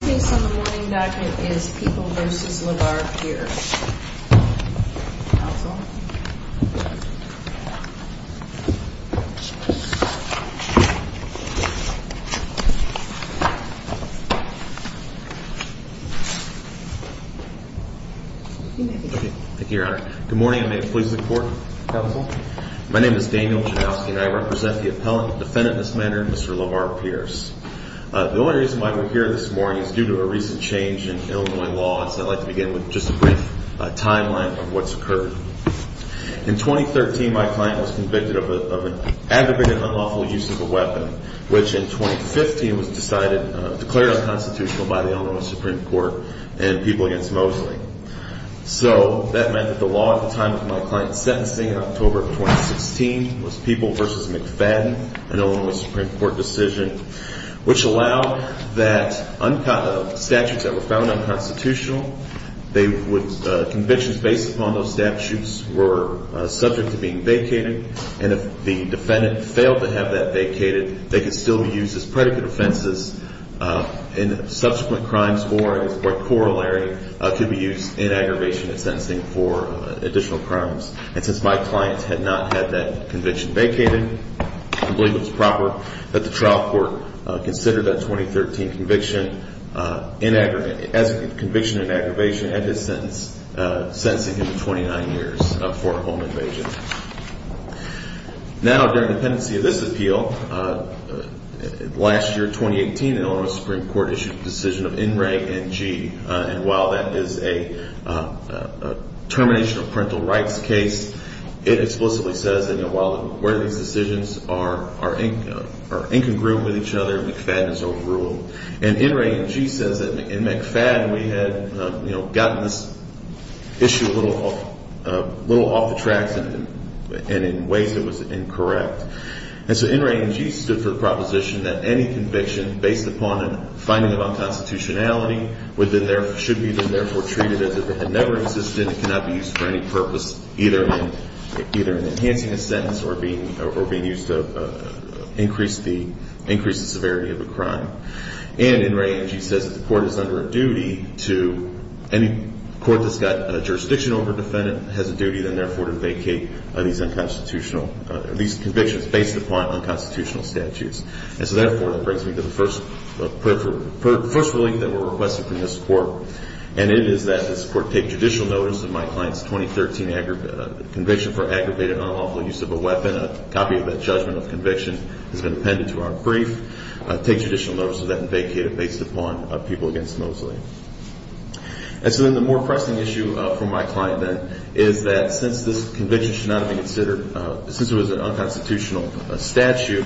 Based on the morning document is People v. LeVar Pierce. Counsel. Thank you, Your Honor. Good morning, and may it please the Court. Counsel. My name is Daniel Janowski, and I represent the appellant defendant in this matter, Mr. LeVar Pierce. The only reason why we're here this morning is due to a recent change in Illinois law, so I'd like to begin with just a brief timeline of what's occurred. In 2013, my client was convicted of an aggravated unlawful use of a weapon, which in 2015 was declared unconstitutional by the Illinois Supreme Court and People v. Mosley. So that meant that the law at the time of my client's sentencing in October of 2016 was People v. McFadden, an Illinois Supreme Court decision. Which allowed that statutes that were found unconstitutional, convictions based upon those statutes were subject to being vacated, and if the defendant failed to have that vacated, they could still be used as predicate offenses in subsequent crimes, or as corollary could be used in aggravation and sentencing for additional crimes. And since my client had not had that conviction vacated, I believe it was proper that the trial court consider that 2013 conviction as a conviction in aggravation and his sentence, sentencing him to 29 years for home invasion. Now, during the pendency of this appeal, last year, 2018, the Illinois Supreme Court issued a decision of NRAG-NG, and while that is a termination of parental rights case, it explicitly says that where these decisions are incongruent with each other, McFadden is overruled. And NRAG-NG says that in McFadden we had gotten this issue a little off the tracks and in ways that was incorrect. And so NRAG-NG stood for the proposition that any conviction based upon a finding of unconstitutionality should be then therefore treated as if it had never existed and cannot be used for any purpose, either in enhancing a sentence or being used to increase the severity of a crime. And NRAG-NG says that the court is under a duty to any court that's got a jurisdiction over a defendant has a duty then therefore to vacate these convictions based upon unconstitutional statutes. And so therefore, that brings me to the first relief that we're requesting from this court, and it is that this court take judicial notice of my client's 2013 conviction for aggravated unlawful use of a weapon. A copy of that judgment of conviction has been appended to our brief. Take judicial notice of that and vacate it based upon people against Mosley. And so then the more pressing issue for my client then is that since this conviction should not be considered, since it was an unconstitutional statute,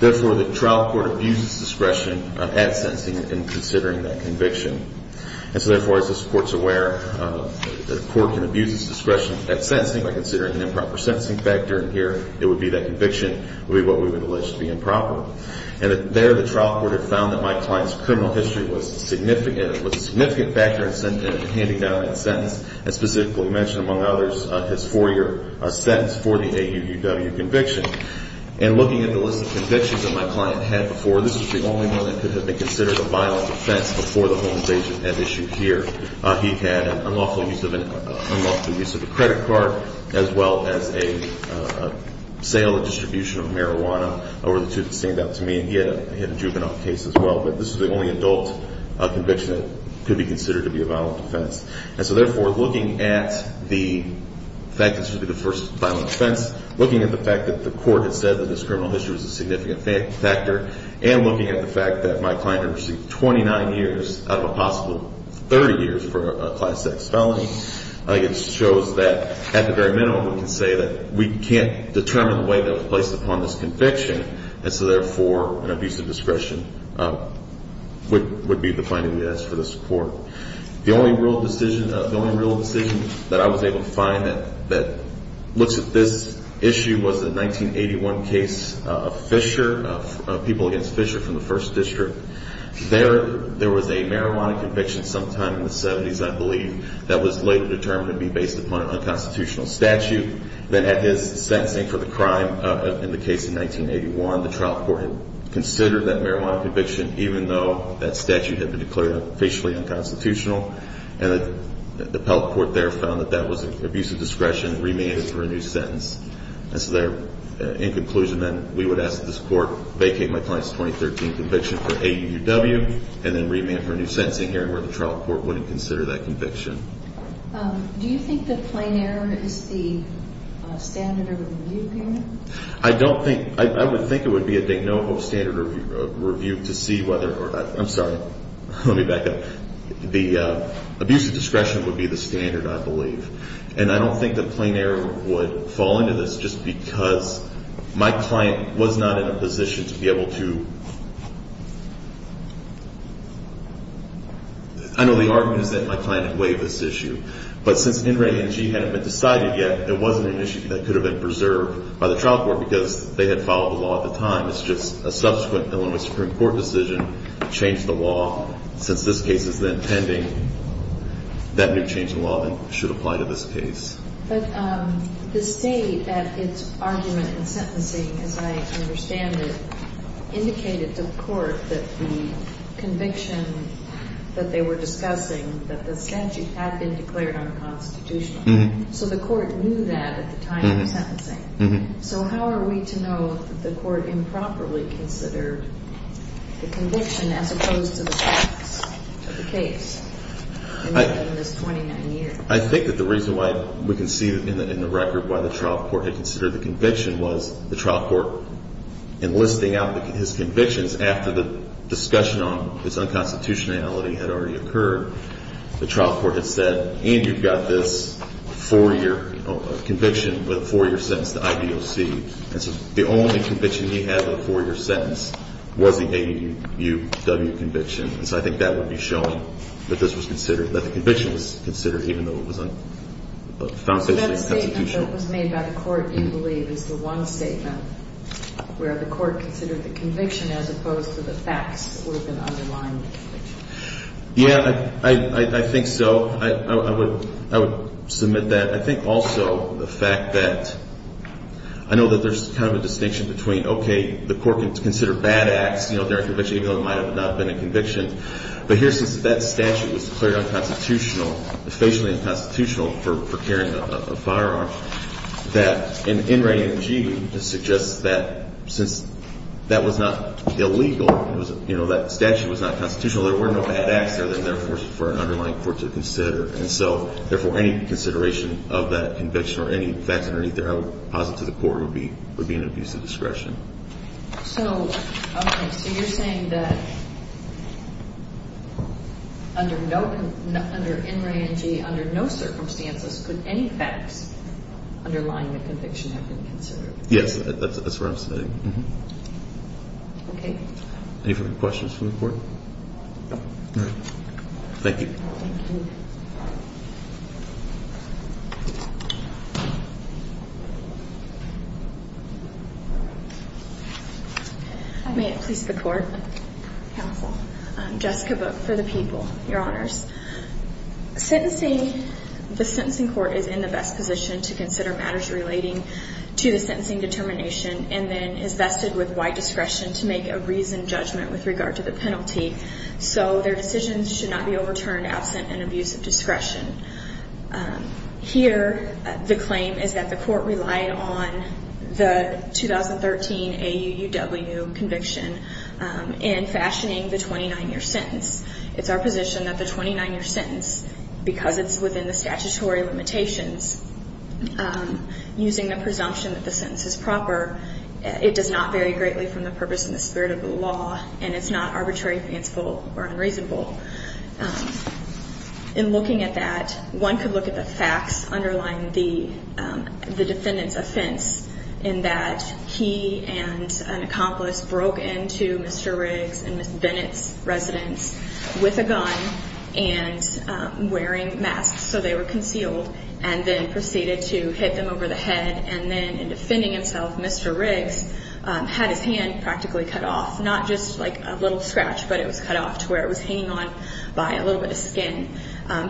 therefore the trial court abuses discretion at sentencing in considering that conviction. And so therefore, as this court's aware, the court can abuse its discretion at sentencing by considering an improper sentencing factor. And here it would be that conviction would be what we would allege to be improper. And there the trial court had found that my client's criminal history was significant, was a significant factor in handing down that sentence, and specifically mentioned, among others, his four-year sentence for the AUUW conviction. And looking at the list of convictions that my client had before, this was the only one that could have been considered a violent offense before the Holmes agent had issued here. He had an unlawful use of a credit card as well as a sale and distribution of marijuana over the two that seemed out to me. And he had a juvenile case as well. But this was the only adult conviction that could be considered to be a violent offense. And so therefore, looking at the fact that this would be the first violent offense, looking at the fact that the court had said that this criminal history was a significant factor, and looking at the fact that my client had received 29 years out of a possible 30 years for a class X felony, I think it shows that at the very minimum we can say that we can't determine the way that it was placed upon this conviction. And so therefore, an abuse of discretion would be the finding we ask for this court. The only real decision that I was able to find that looks at this issue was the 1981 case of Fisher, people against Fisher from the 1st District. There was a marijuana conviction sometime in the 70s, I believe, that was later determined to be based upon an unconstitutional statute. Then at his sentencing for the crime in the case in 1981, the trial court had considered that marijuana conviction even though that statute had been declared facially unconstitutional. And the appellate court there found that that was an abuse of discretion and remanded for a new sentence. And so there, in conclusion then, we would ask that this court vacate my client's 2013 conviction for AUW and then remand for a new sentencing hearing where the trial court wouldn't consider that conviction. Do you think that plain error is the standard of review here? I don't think – I would think it would be a de novo standard of review to see whether – I'm sorry. Let me back up. The abuse of discretion would be the standard, I believe. And I don't think that plain error would fall into this just because my client was not in a position to be able to – I know the argument is that my client had waived this issue. But since NRENG hadn't been decided yet, it wasn't an issue that could have been preserved by the trial court because they had followed the law at the time. It's just a subsequent Illinois Supreme Court decision changed the law. Since this case is then pending, that new change in law then should apply to this case. But the state at its argument in sentencing, as I understand it, indicated to the court that the conviction that they were discussing, that the statute had been declared unconstitutional. So the court knew that at the time of the sentencing. So how are we to know that the court improperly considered the conviction as opposed to the facts of the case in this 29 years? I think that the reason why we can see in the record why the trial court had considered the conviction was the trial court enlisting out his convictions after the discussion on this unconstitutionality had already occurred. The trial court had said, and you've got this four-year conviction with a four-year sentence to IBOC. And so the only conviction he had with a four-year sentence was the AAUW conviction. And so I think that would be showing that this was considered – that the conviction was considered even though it was unconstitutional. So that statement that was made by the court, you believe, is the one statement where the court considered the conviction as opposed to the facts that would have been underlined? Yeah, I think so. I would submit that. I think also the fact that – I know that there's kind of a distinction between, okay, the court can consider bad acts during conviction even though it might not have been a conviction. But here, since that statute was declared unconstitutional, officially unconstitutional for carrying a firearm, that in rating of G, it suggests that since that was not illegal, you know, that statute was not constitutional, there were no bad acts there that, therefore, for an underlying court to consider. And so, therefore, any consideration of that conviction or any facts underneath there, I would posit to the court, would be an abuse of discretion. So, okay. So you're saying that under no – under NRANG, under no circumstances could any facts underlying the conviction have been considered? Yes. That's what I'm saying. Okay. Any further questions from the court? No. All right. Thank you. Thank you. May it please the court. Counsel. Jessica Book for the people. Your honors. Sentencing – the sentencing court is in the best position to consider matters relating to the sentencing determination and then is vested with wide discretion to make a reasoned judgment with regard to the penalty. Here, the claim is that the court relied on the 2013 AUUW conviction in fashioning the 29-year sentence. It's our position that the 29-year sentence, because it's within the statutory limitations, using the presumption that the sentence is proper, it does not vary greatly from the purpose and the spirit of the law, and it's not arbitrary, fanciful, or unreasonable. In looking at that, one could look at the facts underlying the defendant's offense, in that he and an accomplice broke into Mr. Riggs and Ms. Bennett's residence with a gun and wearing masks, so they were concealed, and then proceeded to hit them over the head, and then in defending himself, Mr. Riggs had his hand practically cut off, not just like a little scratch, but it was cut off to where it was hanging on by a little bit of skin.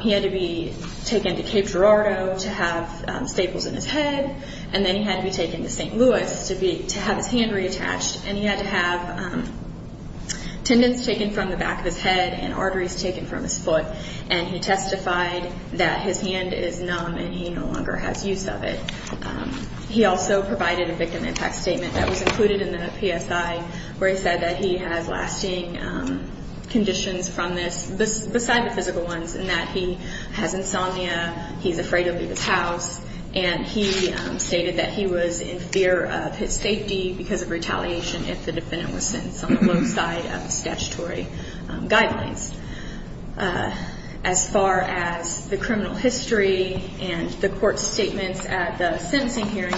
He had to be taken to Cape Girardeau to have staples in his head, and then he had to be taken to St. Louis to have his hand reattached, and he had to have tendons taken from the back of his head and arteries taken from his foot, and he testified that his hand is numb and he no longer has use of it. He also provided a victim impact statement that was included in the PSI, where he said that he has lasting conditions from this, beside the physical ones, in that he has insomnia, he's afraid to leave his house, and he stated that he was in fear of his safety because of retaliation if the defendant was sentenced on the low side of the statutory guidelines. As far as the criminal history and the court statements at the sentencing hearing,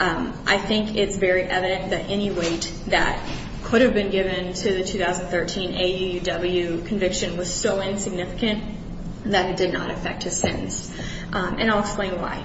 I think it's very evident that any weight that could have been given to the 2013 AUW conviction was so insignificant that it did not affect his sentence, and I'll explain why.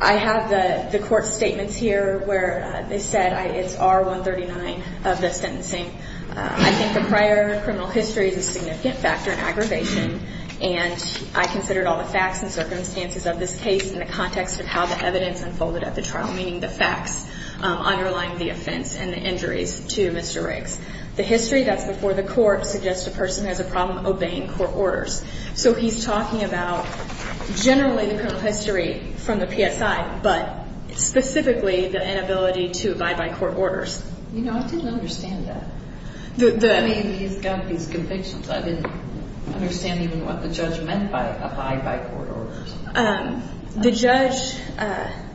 I have the court statements here where they said it's R139 of the sentencing. I think the prior criminal history is a significant factor in aggravation, and I considered all the facts and circumstances of this case in the context of how the evidence unfolded at the trial, meaning the facts underlying the offense and the injuries to Mr. Riggs. The history that's before the court suggests the person has a problem obeying court orders, so he's talking about generally the criminal history from the PSI, but specifically the inability to abide by court orders. You know, I didn't understand that. I mean, he's got these convictions. I didn't understand even what the judge meant by abide by court orders. The judge,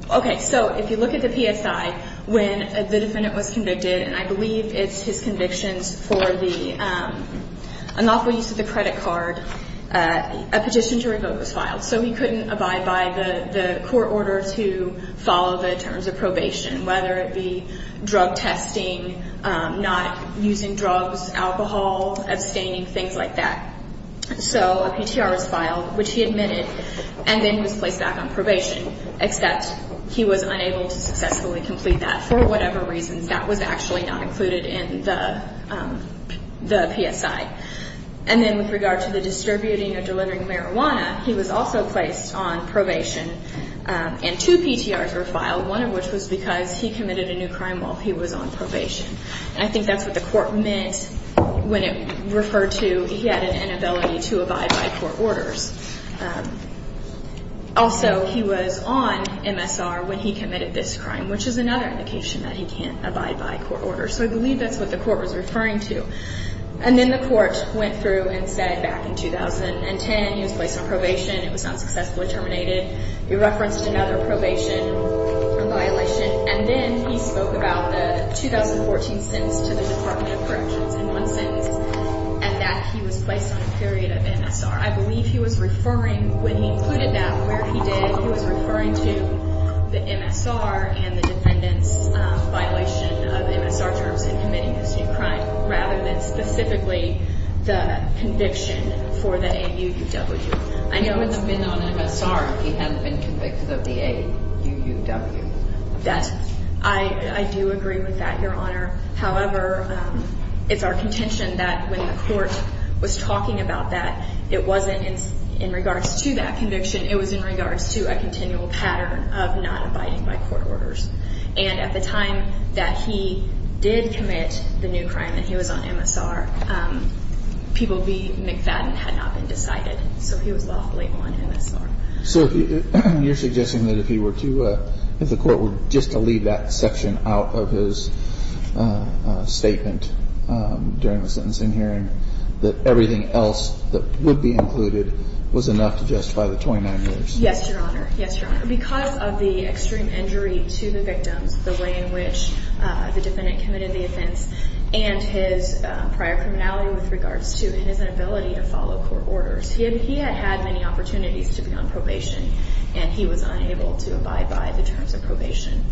okay, so if you look at the PSI, when the defendant was convicted, and I believe it's his convictions for the unlawful use of the credit card, a petition to revoke was filed, so he couldn't abide by the court order to follow the terms of probation, whether it be drug testing, not using drugs, alcohol, abstaining, things like that. So a PTR was filed, which he admitted, and then he was placed back on probation, except he was unable to successfully complete that for whatever reasons. That was actually not included in the PSI. And then with regard to the distributing or delivering marijuana, he was also placed on probation, and two PTRs were filed, one of which was because he committed a new crime while he was on probation. And I think that's what the court meant when it referred to he had an inability to abide by court orders. Also, he was on MSR when he committed this crime, which is another indication that he can't abide by court orders. So I believe that's what the court was referring to. And then the court went through and said back in 2010 he was placed on probation, it was not successfully terminated. We referenced another probation violation. And then he spoke about the 2014 sentence to the Department of Corrections, in one sentence, and that he was placed on a period of MSR. I believe he was referring, when he included that, where he did, he was referring to the MSR and the defendant's violation of MSR terms in committing this new crime, rather than specifically the conviction for the AUUW. He wouldn't have been on MSR if he hadn't been convicted of the AUUW. I do agree with that, Your Honor. However, it's our contention that when the court was talking about that, it wasn't in regards to that conviction. It was in regards to a continual pattern of not abiding by court orders. And at the time that he did commit the new crime, that he was on MSR, People v. McFadden had not been decided. So he was lawfully on MSR. So you're suggesting that if he were to, if the court were just to leave that section out of his statement during the sentencing hearing, that everything else that would be included was enough to justify the 29 years? Yes, Your Honor. Yes, Your Honor. Because of the extreme injury to the victims, the way in which the defendant committed the offense, and his prior criminality with regards to his inability to follow court orders, he had had many opportunities to be on probation, and he was unable to abide by the terms of probation.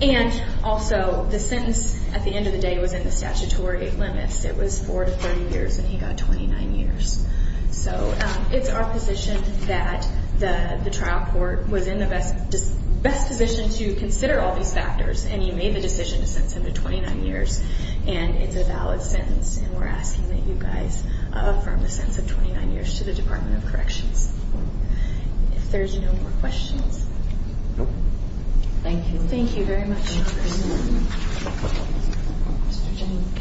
And also, the sentence at the end of the day was in the statutory limits. It was 4 to 30 years, and he got 29 years. So it's our position that the trial court was in the best position to consider all these factors, and he made the decision to sentence him to 29 years. And it's a valid sentence, and we're asking that you guys affirm the sentence of 29 years to the Department of Corrections. If there's no more questions. Thank you. Thank you very much. Thank you, Your Honor. Mr. James Komsky.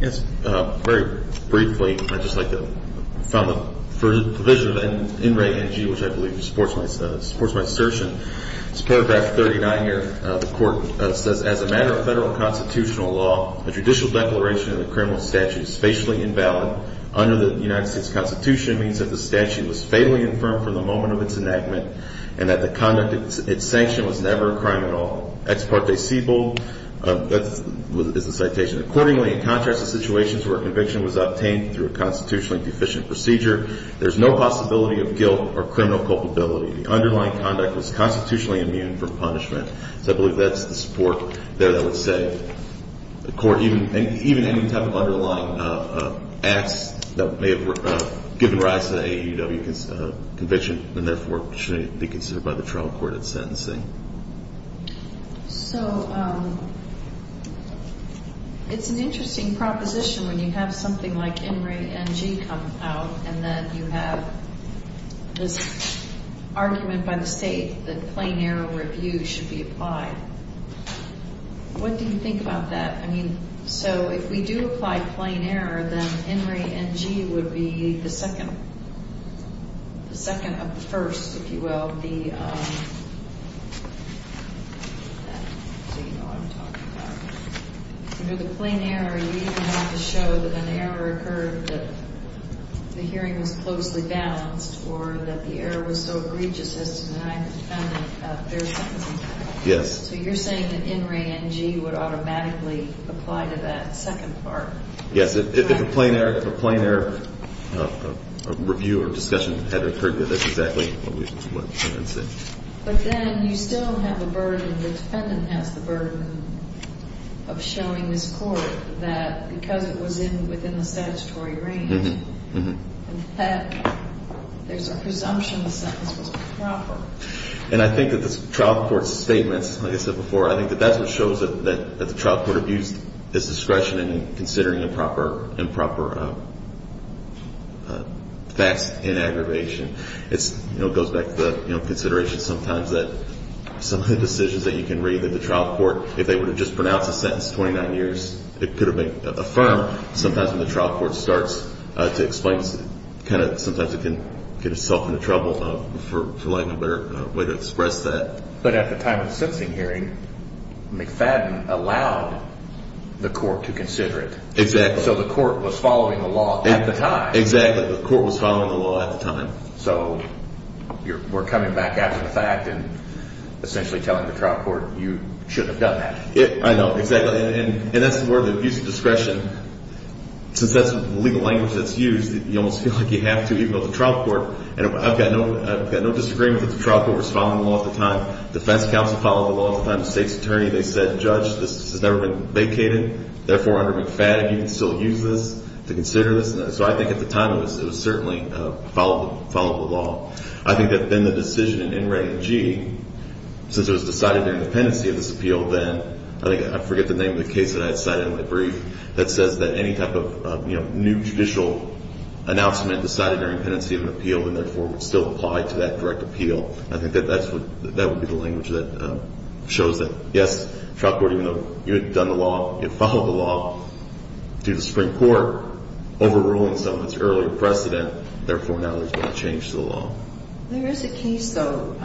Yes. Very briefly, I'd just like to found the provision in Reg NG, which I believe supports my assertion. It's paragraph 39 here. The court says, As a matter of federal constitutional law, the judicial declaration of the criminal statute is facially invalid. Under the United States Constitution, means that the statute was fatally infirmed from the moment of its enactment and that the conduct of its sanction was never a crime at all. Ex parte civil is the citation. Accordingly, in contrast to situations where a conviction was obtained through a constitutionally deficient procedure, there's no possibility of guilt or criminal culpability. The underlying conduct was constitutionally immune from punishment. Or even any type of underlying acts that may have given rise to the AUW conviction and therefore should be considered by the trial court at sentencing. So it's an interesting proposition when you have something like NG come out and then you have this argument by the state that plain error review should be applied. What do you think about that? I mean, so if we do apply plain error, then NG would be the second of the first, if you will. Under the plain error, you even have to show that an error occurred, that the hearing was closely balanced, or that the error was so egregious as to deny the defendant fair sentencing. Yes. So you're saying that N, RE, NG would automatically apply to that second part? Yes. If a plain error review or discussion had occurred, that's exactly what we would say. But then you still have a burden, the defendant has the burden of showing this court that because it was within the statutory range, that there's a presumption the sentence was proper. And I think that the trial court's statements, like I said before, I think that that's what shows that the trial court abused its discretion in considering improper facts and aggravation. It goes back to the consideration sometimes that some of the decisions that you can read that the trial court, if they were to just pronounce a sentence 29 years, it could have been affirmed. Sometimes when the trial court starts to explain, sometimes it can get itself into trouble for lack of a better way to express that. But at the time of the sentencing hearing, McFadden allowed the court to consider it. Exactly. So the court was following the law at the time. Exactly. The court was following the law at the time. So we're coming back after the fact and essentially telling the trial court, you shouldn't have done that. I know, exactly. And that's where the abuse of discretion, since that's the legal language that's used, you almost feel like you have to, even though it's a trial court. And I've got no disagreement that the trial court was following the law at the time. The defense counsel followed the law at the time. The state's attorney, they said, Judge, this has never been vacated. Therefore, under McFadden, you can still use this to consider this. So I think at the time it was certainly followed the law. I think that then the decision in NREA-G, since it was decided during the pendency of this appeal then, I forget the name of the case that I had cited in my brief, that says that any type of new judicial announcement decided during pendency of an appeal and therefore would still apply to that direct appeal. I think that would be the language that shows that, yes, trial court, even though you had done the law, you followed the law, due to Supreme Court overruling some of its earlier precedent, therefore now there's been a change to the law. There is a case, though,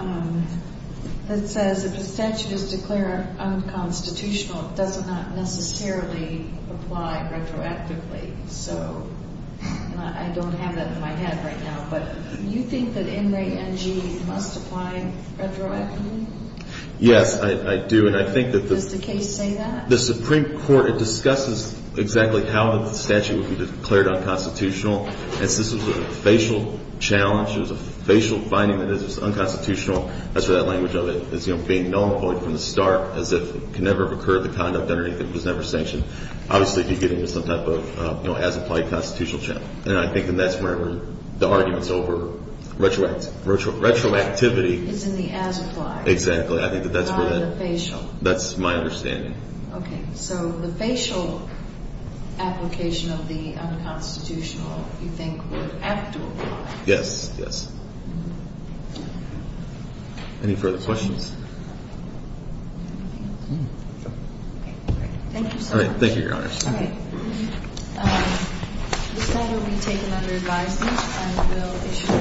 that says if a statute is declared unconstitutional, it does not necessarily apply retroactively. So I don't have that in my head right now, but you think that NREA-G must apply retroactively? Yes, I do. And I think that the — Does the case say that? The Supreme Court, it discusses exactly how the statute would be declared unconstitutional. This was a facial challenge. It was a facial finding that it was unconstitutional. That's where that language of it is being null and void from the start, as if it could never have occurred, the conduct underneath it was never sanctioned, obviously beginning with some type of, you know, as-applied constitutional challenge. And I think that that's where the arguments over retroactivity — Is in the as-applied. Exactly. I think that that's where that — Not in the facial. That's my understanding. Okay. So the facial application of the unconstitutional, you think, would have to apply. Yes, yes. Any further questions? Okay. Thank you so much. All right. Thank you, Your Honors. All right. This item will be taken under advisement, and we'll issue an order to approve it.